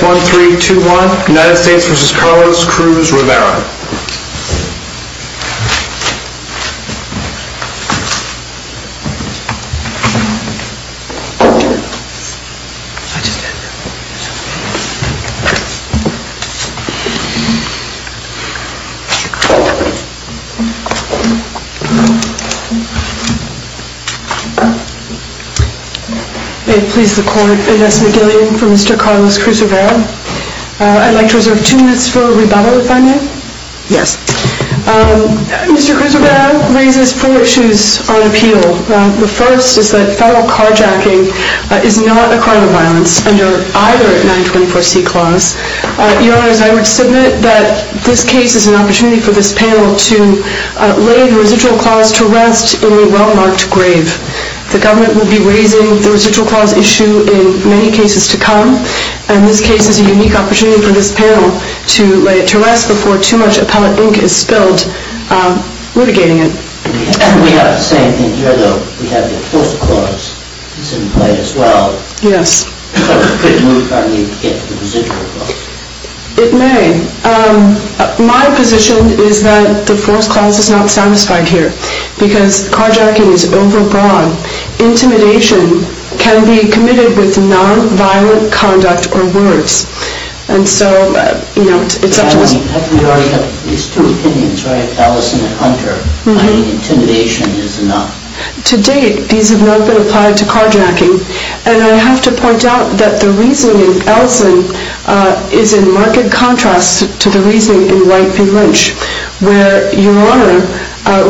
1, 3, 2, 1, United States versus Carlos Cruz Rivera. I'd like to reserve two minutes for a rebuttal if I may. Mr. Cruz Rivera raises four issues on appeal. The first is that federal carjacking is not a crime of violence under either 924C clause. Your Honors, I would submit that this case is an opportunity for this panel to lay the residual clause to rest in a well-marked grave. The government will be raising the residual clause issue in many cases to come, and this case is a unique opportunity for this panel to lay it to rest before too much appellate ink is spilled litigating it. We have the same thing here, though. We have the fourth clause that's in play as well. Yes. Could a moot court need to get to the residual clause? It may. My position is that the fourth clause is not satisfied here because carjacking is overbroad. Intimidation can be committed with nonviolent conduct or words. And so, you know, it's up to us. But you already have these two opinions, right, Ellison and Hunter. I mean, intimidation is enough. To date, these have not been applied to carjacking. And I have to point out that the reasoning of Ellison is in marked contrast to the reasoning in White v. Lynch, where Your Honor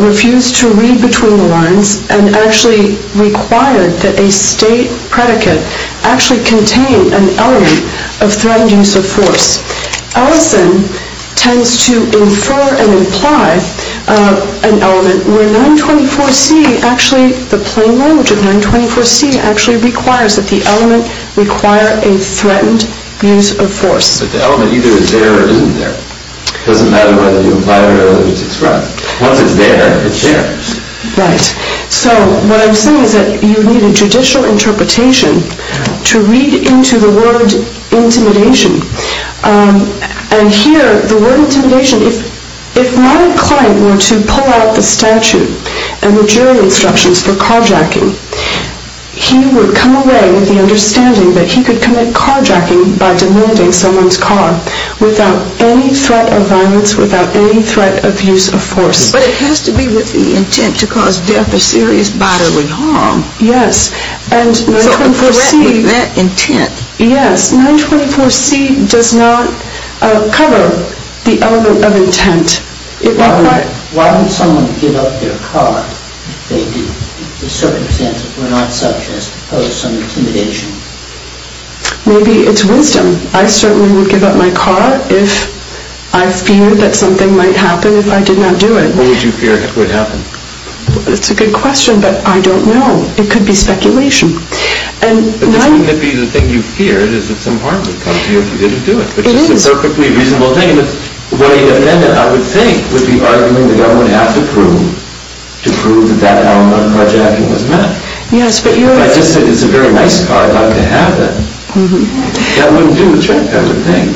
refused to read between the lines and actually required that a state predicate actually contain an element of threatened use of force. Ellison tends to infer and imply an element where 924C actually, the plain language of 924C, actually requires that the element require a threatened use of force. So the element either is there or isn't there. It doesn't matter whether you imply it or whether it's a threat. Once it's there, it's there. Right. So what I'm saying is that you need a judicial interpretation to read into the word intimidation. And here, the word intimidation, if my client were to pull out the statute and the jury instructions for carjacking, he would come away with the understanding that he could commit carjacking by demanding someone's car without any threat of violence, without any threat of use of force. But it has to be with the intent to cause death or serious bodily harm. Yes. So the threat with that intent. Yes. 924C does not cover the element of intent. Why would someone give up their car if the circumstances were not such as to pose some intimidation? Maybe it's wisdom. I certainly would give up my car if I feared that something might happen if I did not do it. What would you fear would happen? That's a good question, but I don't know. It could be speculation. But wouldn't it be the thing you feared is that some harm would come to you if you didn't do it? It is. It's a perfectly reasonable thing. What a defendant, I would think, would be arguing the government has to prove to prove that that element of carjacking was met. Yes, but you're... If I just said, it's a very nice car, I'd like to have it, that wouldn't do, I would think.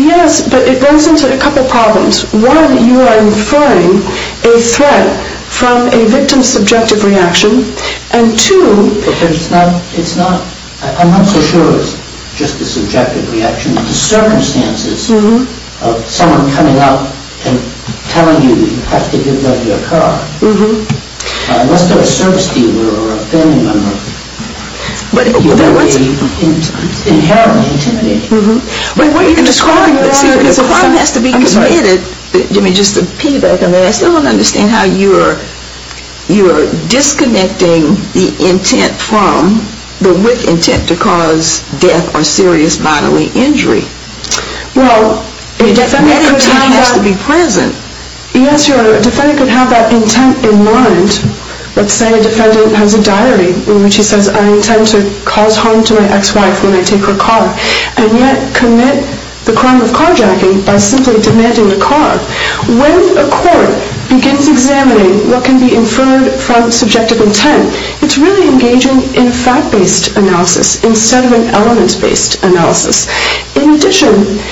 Yes, but it goes into a couple problems. One, you are inferring a threat from a victim's subjective reaction. And two... But it's not, I'm not so sure it's just a subjective reaction. The circumstances of someone coming out and telling you you have to give up your car, unless they're a service dealer or a family member, would be inherently intimidating. But what you're describing is a crime that has to be committed. Just to piggyback on that, I still don't understand how you're disconnecting the intent from, the with intent to cause death or serious bodily injury. Well, a defendant could have that intent in mind. Let's say a defendant has a diary in which he says, I intend to cause harm to my ex-wife when I take her car. And yet commit the crime of carjacking by simply demanding a car. When a court begins examining what can be inferred from subjective intent, it's really engaging in fact-based analysis instead of an element-based analysis. In addition,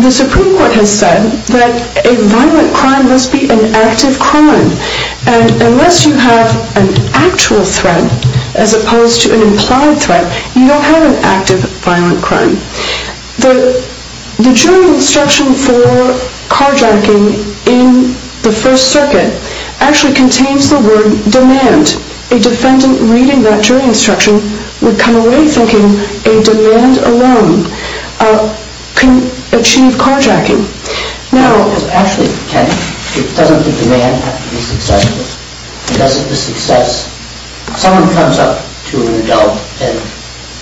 the Supreme Court has said that a violent crime must be an active crime. And unless you have an actual threat as opposed to an implied threat, you don't have an active violent crime. The jury instruction for carjacking in the First Circuit actually contains the word demand. A defendant reading that jury instruction would come away thinking a demand alone can achieve carjacking. Now, actually, Ken, doesn't the demand have to be successful? Because of the success, someone comes up to an adult and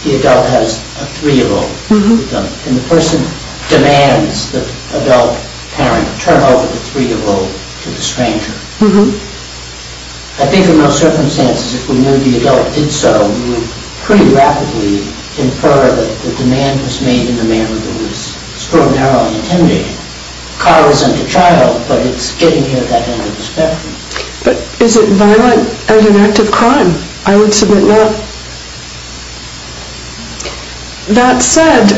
the adult has a three-year-old. And the person demands the adult parent turn over the three-year-old to the stranger. I think in most circumstances, if we knew the adult did so, we would pretty rapidly infer that the demand was made in a manner that was extraordinarily intimidating. A car isn't a child, but it's getting you at that end of the spectrum. But is it violent as an active crime? I would submit not. That said,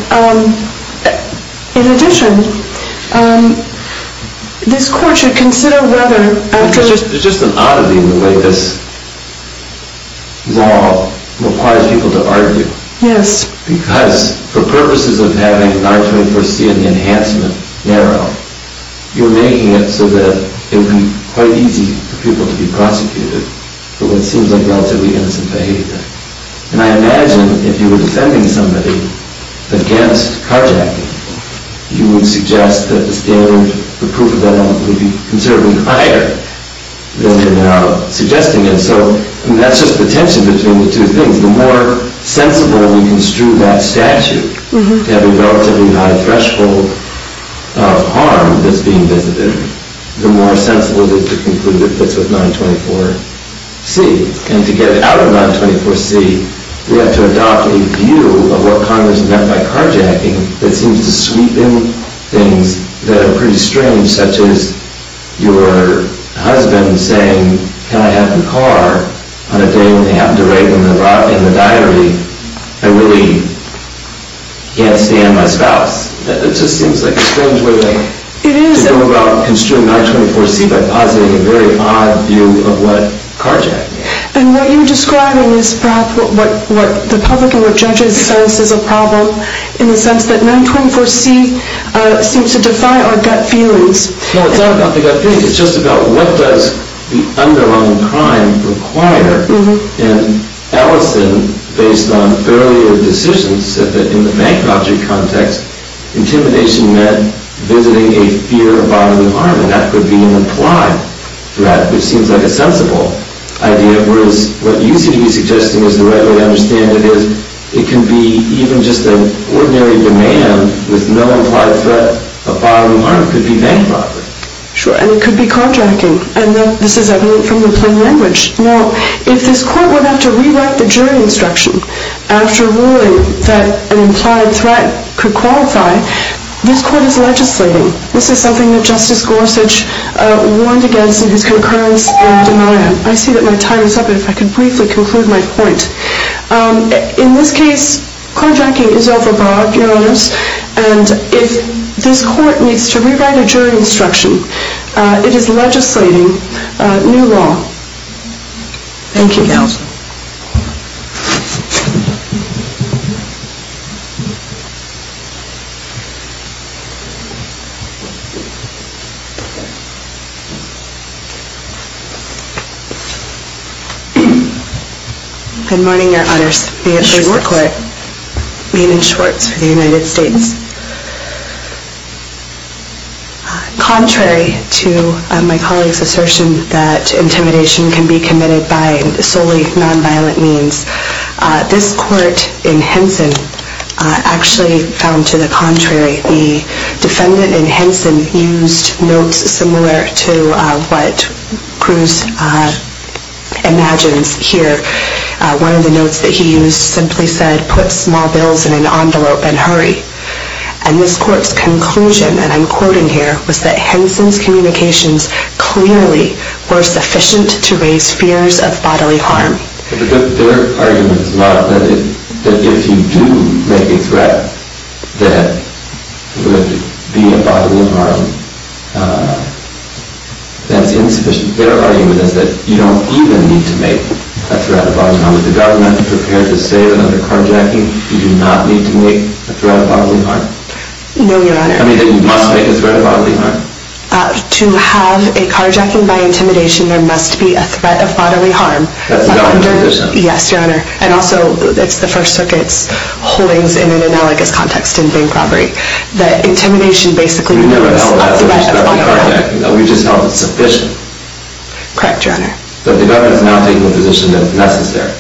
in addition, this court should consider whether after... There's just an oddity in the way this law requires people to argue. Yes. Because for purposes of having an R-24C and the enhancement narrow, you're making it so that it would be quite easy for people to be prosecuted for what seems like relatively innocent behavior. And I imagine if you were defending somebody against carjacking, you would suggest that the standard for proof of that element would be considerably higher than we're now suggesting it. So that's just the tension between the two things. The more sensible we construe that statute to have a relatively high threshold of harm that's being visited, the more sensible it is to conclude it fits with 924C. And to get it out of 924C, we have to adopt a view of what Congress meant by carjacking that seems to sweep in things that are pretty strange, such as your husband saying, can I have your car on a day when they happen to rape him in the diary? I really can't stand my spouse. It just seems like a strange way to go about construing 924C by positing a very odd view of what carjacking is. And what you're describing is perhaps what the public and what judges sense is a problem in the sense that 924C seems to defy our gut feelings. No, it's not about the gut feelings. It's just about what does the underlying crime require. And Ellison, based on earlier decisions, said that in the bank robbery context, intimidation meant visiting a fear of bodily harm. And that could be an implied threat, which seems like a sensible idea, whereas what you seem to be suggesting is the right way to understand it is it can be even just an ordinary demand with no implied threat of bodily harm. It could be bank robbery. Sure. And it could be carjacking. And this is evident from the plain language. Now, if this court were to have to rewrite the jury instruction after ruling that an implied threat could qualify, this court is legislating. This is something that Justice Gorsuch warned against in his concurrence denial. I see that my time is up, but if I could briefly conclude my point. In this case, carjacking is overbought, Your Honors, and if this court needs to rewrite a jury instruction, it is legislating new law. Thank you, Your Honors. Good morning, Your Honors. My name is Maiden Schwartz for the United States. Contrary to my colleague's assertion that intimidation can be committed by solely nonviolent means, this court in Henson actually found to the contrary. The defendant in Henson used notes similar to what Cruz imagines here. One of the notes that he used simply said, put small bills in an envelope and hurry. And this court's conclusion, and I'm quoting here, was that Henson's communications clearly were sufficient to raise fears of bodily harm. But their argument is not that if you do make a threat that would be a bodily harm, that's insufficient. Their argument is that you don't even need to make a threat of bodily harm. If the government is prepared to say that under carjacking, you do not need to make a threat of bodily harm? No, Your Honor. I mean that you must make a threat of bodily harm. To have a carjacking by intimidation, there must be a threat of bodily harm. That's not insufficient. Yes, Your Honor. And also, it's the First Circuit's holdings in an analogous context in bank robbery, that intimidation basically means a threat of bodily harm. We just held it sufficient. Correct, Your Honor. But the government is not taking a position that's necessary.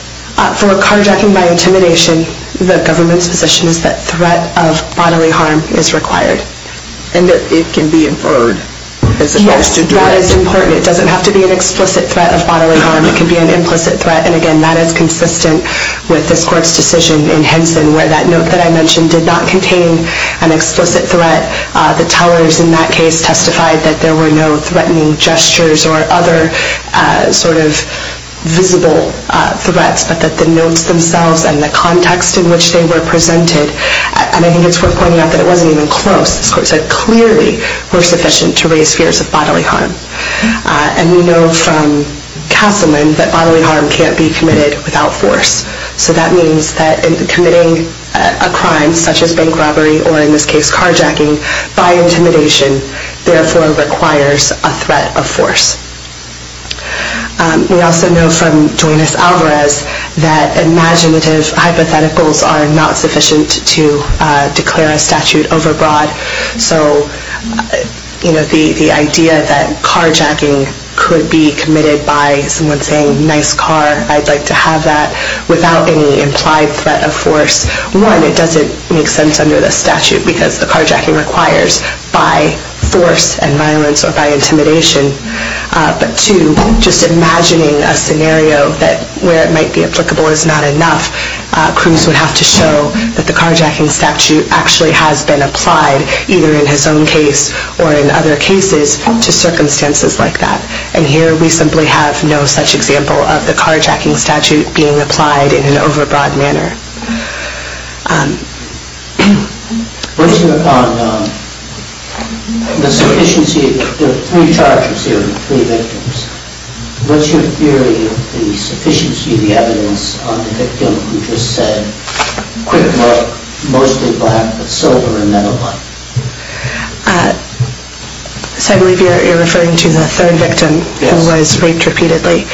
For a carjacking by intimidation, the government's position is that threat of bodily harm is required. And that it can be inferred as supposed to do it. Yes, that is important. It doesn't have to be an explicit threat of bodily harm. It can be an implicit threat. And again, that is consistent with this court's decision in Henson, where that note that I mentioned did not contain an explicit threat. The tellers in that case testified that there were no threatening gestures or other sort of visible threats, but that the notes themselves and the context in which they were presented, and I think it's worth pointing out that it wasn't even close. This court said clearly we're sufficient to raise fears of bodily harm. And we know from Castleman that bodily harm can't be committed without force. So that means that committing a crime such as bank robbery, or in this case carjacking, by intimidation, therefore requires a threat of force. We also know from Duenas-Alvarez that imaginative hypotheticals are not sufficient to declare a statute overbroad. So the idea that carjacking could be committed by someone saying, I'd like to have that, without any implied threat of force, one, it doesn't make sense under the statute, because the carjacking requires by force and violence or by intimidation. But two, just imagining a scenario where it might be applicable is not enough. Cruz would have to show that the carjacking statute actually has been applied, either in his own case or in other cases, to circumstances like that. And here we simply have no such example of the carjacking statute being applied in an overbroad manner. Based upon the sufficiency of the three charges here, three victims, what's your theory of the sufficiency of the evidence on the victim who just said, quick look, mostly black, but silver and then a white? So I believe you're referring to the third victim who was raped repeatedly.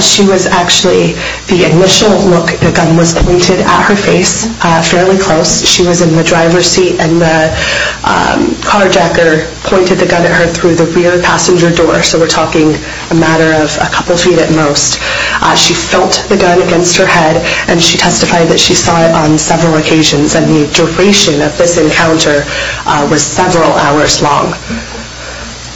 She was actually, the initial look, the gun was pointed at her face fairly close. She was in the driver's seat and the carjacker pointed the gun at her through the rear passenger door, so we're talking a matter of a couple feet at most. She felt the gun against her head and she testified that she saw it on several occasions and the duration of this encounter was several hours long.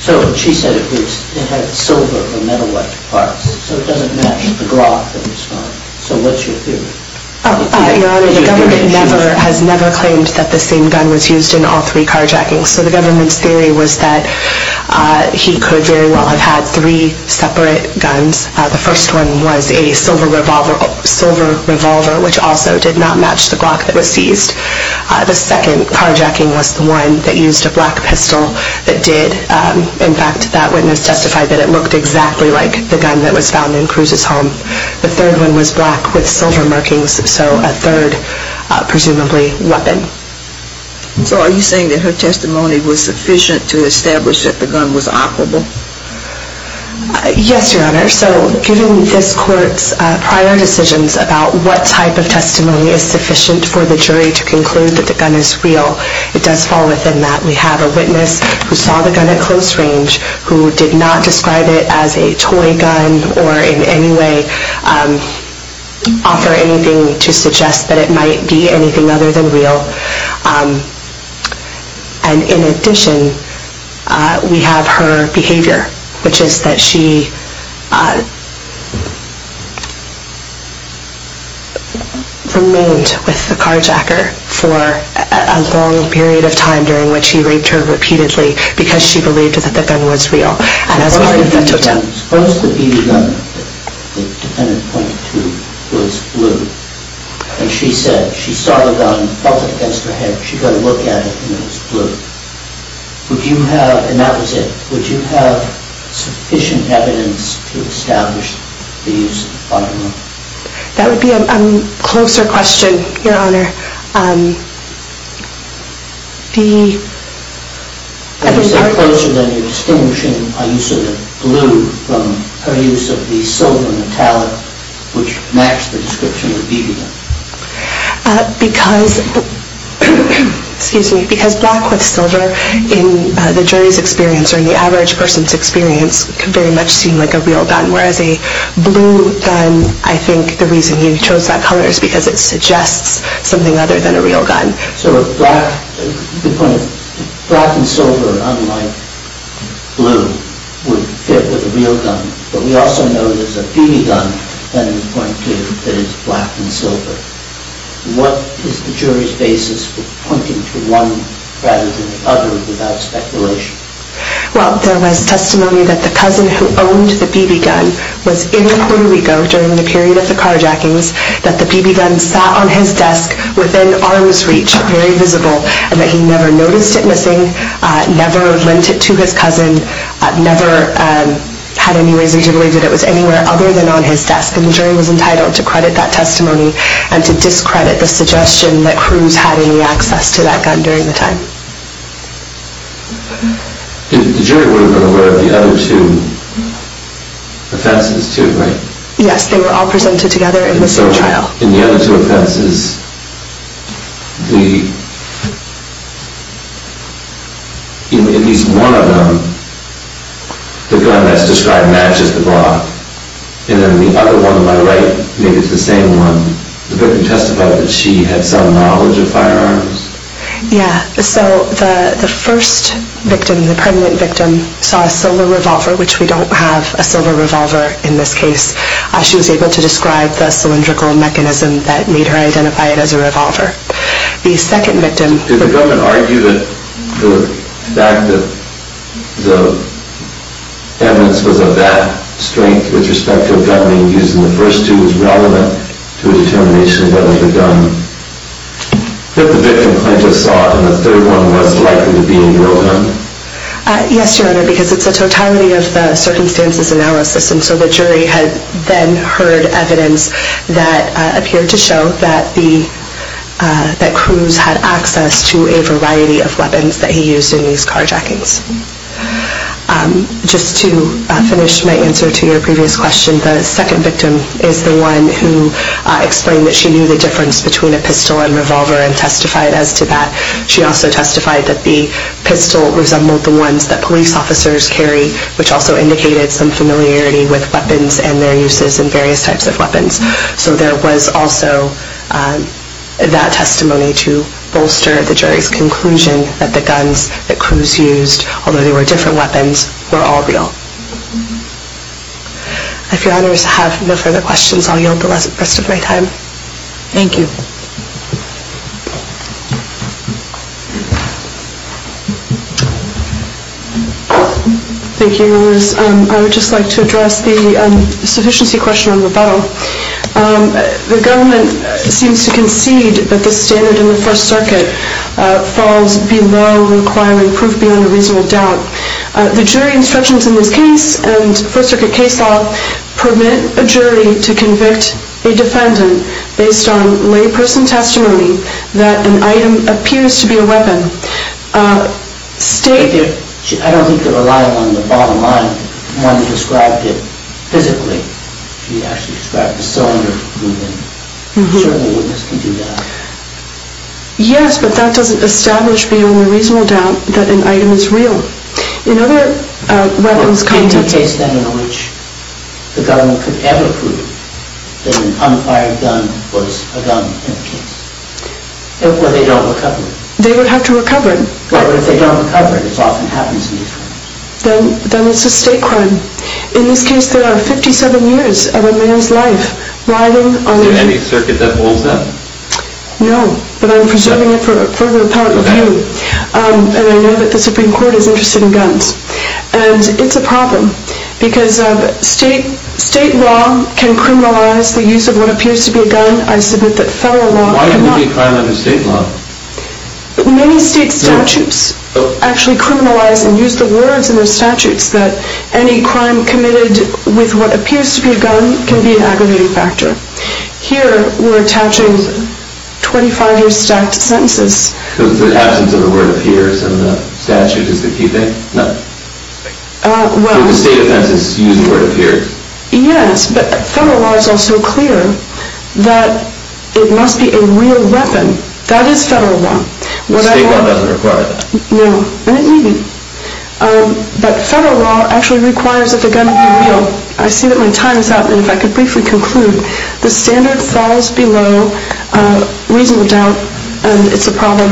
So she said it had silver or metal-like parts, so it doesn't match the grok that was found. So what's your theory? Your Honor, the government has never claimed that the same gun was used in all three carjackings, so the government's theory was that he could very well have had three separate guns. The first one was a silver revolver, which also did not match the grok that was seized. The second carjacking was the one that used a black pistol that did. In fact, that witness testified that it looked exactly like the gun that was found in Cruz's home. The third one was black with silver markings, so a third, presumably, weapon. So are you saying that her testimony was sufficient to establish that the gun was operable? Yes, Your Honor. So given this court's prior decisions about what type of testimony is sufficient for the jury to conclude that the gun is real, it does fall within that. We have a witness who saw the gun at close range, who did not describe it as a toy gun or in any way offer anything to suggest that it might be anything other than real. And in addition, we have her behavior, which is that she remained with the carjacker for a long period of time, during which he raped her repeatedly, because she believed that the gun was real. Suppose the BB gun that the defendant pointed to was blue, and she said she saw the gun, felt it against her head, she got a look at it, and it was blue. Would you have, and that was it, would you have sufficient evidence to establish the use of the firearm? That would be a closer question, Your Honor. If you said closer, then you're distinguishing a use of the blue from her use of the silver metallic, which matched the description of the BB gun. Because black with silver, in the jury's experience or in the average person's experience, could very much seem like a real gun, whereas a blue gun, I think the reason you chose that color is because it suggests something other than a real gun. So the point is, black and silver, unlike blue, would fit with a real gun. But we also know there's a BB gun that the defendant pointed to that is black and silver. What is the jury's basis for pointing to one rather than the other without speculation? Well, there was testimony that the cousin who owned the BB gun was in Puerto Rico during the period of the carjackings that the BB gun sat on his desk within arm's reach, very visible, and that he never noticed it missing, never lent it to his cousin, never had any reason to believe that it was anywhere other than on his desk. And the jury was entitled to credit that testimony and to discredit the suggestion that Cruz had any access to that gun during the time. The jury would have been aware of the other two offenses, too, right? Yes, they were all presented together in the same trial. In the other two offenses, in at least one of them, the gun that's described matches the block. And then the other one on my right, maybe it's the same one, the victim testified that she had some knowledge of firearms. Yeah, so the first victim, the permanent victim, saw a silver revolver, which we don't have a silver revolver in this case. She was able to describe the cylindrical mechanism that made her identify it as a revolver. The second victim... Did the government argue that the fact that the evidence was of that strength with respect to a gun being used in the first two was relevant to a determination that was a gun that the victim plaintiff sought and the third one was likely to be a real gun? Yes, Your Honor, because it's a totality of the circumstances analysis. And so the jury had then heard evidence that appeared to show that Cruz had access to a variety of weapons that he used in these carjackings. Just to finish my answer to your previous question, the second victim is the one who explained that she knew the difference between a pistol and revolver and testified as to that. She also testified that the pistol resembled the ones that police officers carry, which also indicated some familiarity with weapons and their uses in various types of weapons. So there was also that testimony to bolster the jury's conclusion that the guns that Cruz used, although they were different weapons, were all real. If Your Honors have no further questions, I'll yield the rest of my time. Thank you. Thank you, Your Honors. I would just like to address the sufficiency question on the battle. The government seems to concede that the standard in the First Circuit falls below requiring proof beyond a reasonable doubt. The jury instructions in this case and First Circuit case law permit a jury to convict a defendant based on layperson testimony that an item appears to be a weapon. I don't think they're reliable on the bottom line, the one who described it physically. She actually described the cylinder moving. Certainly a witness can do that. Yes, but that doesn't establish beyond a reasonable doubt that an item is real. In other weapons contexts... Is there a case, then, in which the government could ever prove that an unfired gun was a gun in the case? Or they don't recover it. They would have to recover it. Well, if they don't recover it, as often happens in these cases. Then it's a state crime. In this case, there are 57 years of a man's life riding on... Is there any circuit that holds that? No, but I'm preserving it for further appellate review. And I know that the Supreme Court is interested in guns. And it's a problem. Because state law can criminalize the use of what appears to be a gun. I submit that federal law... Why would it be a crime under state law? Many state statutes actually criminalize and use the words in their statutes that any crime committed with what appears to be a gun can be an aggravating factor. Here, we're attaching 25 years stacked sentences. Because the absence of the word appears in the statute is the key thing? No. Do the state offenses use the word appears? Yes, but federal law is also clear that it must be a real weapon. That is federal law. State law doesn't require that. No, and it may be. But federal law actually requires that the gun be real. I see that my time is up, and if I could briefly conclude. The standard falls below reasonable doubt, and it's a problem.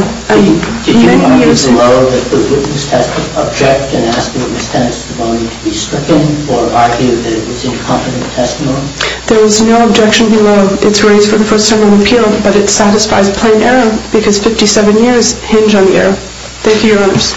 Did you argue below that the witness has to object and ask the witness testimony to be stricken or argue that it was incompetent testimony? There was no objection below. It's raised for the first sermon of appeal, but it satisfies plain error because 57 years hinge on error. Thank you, Your Honors.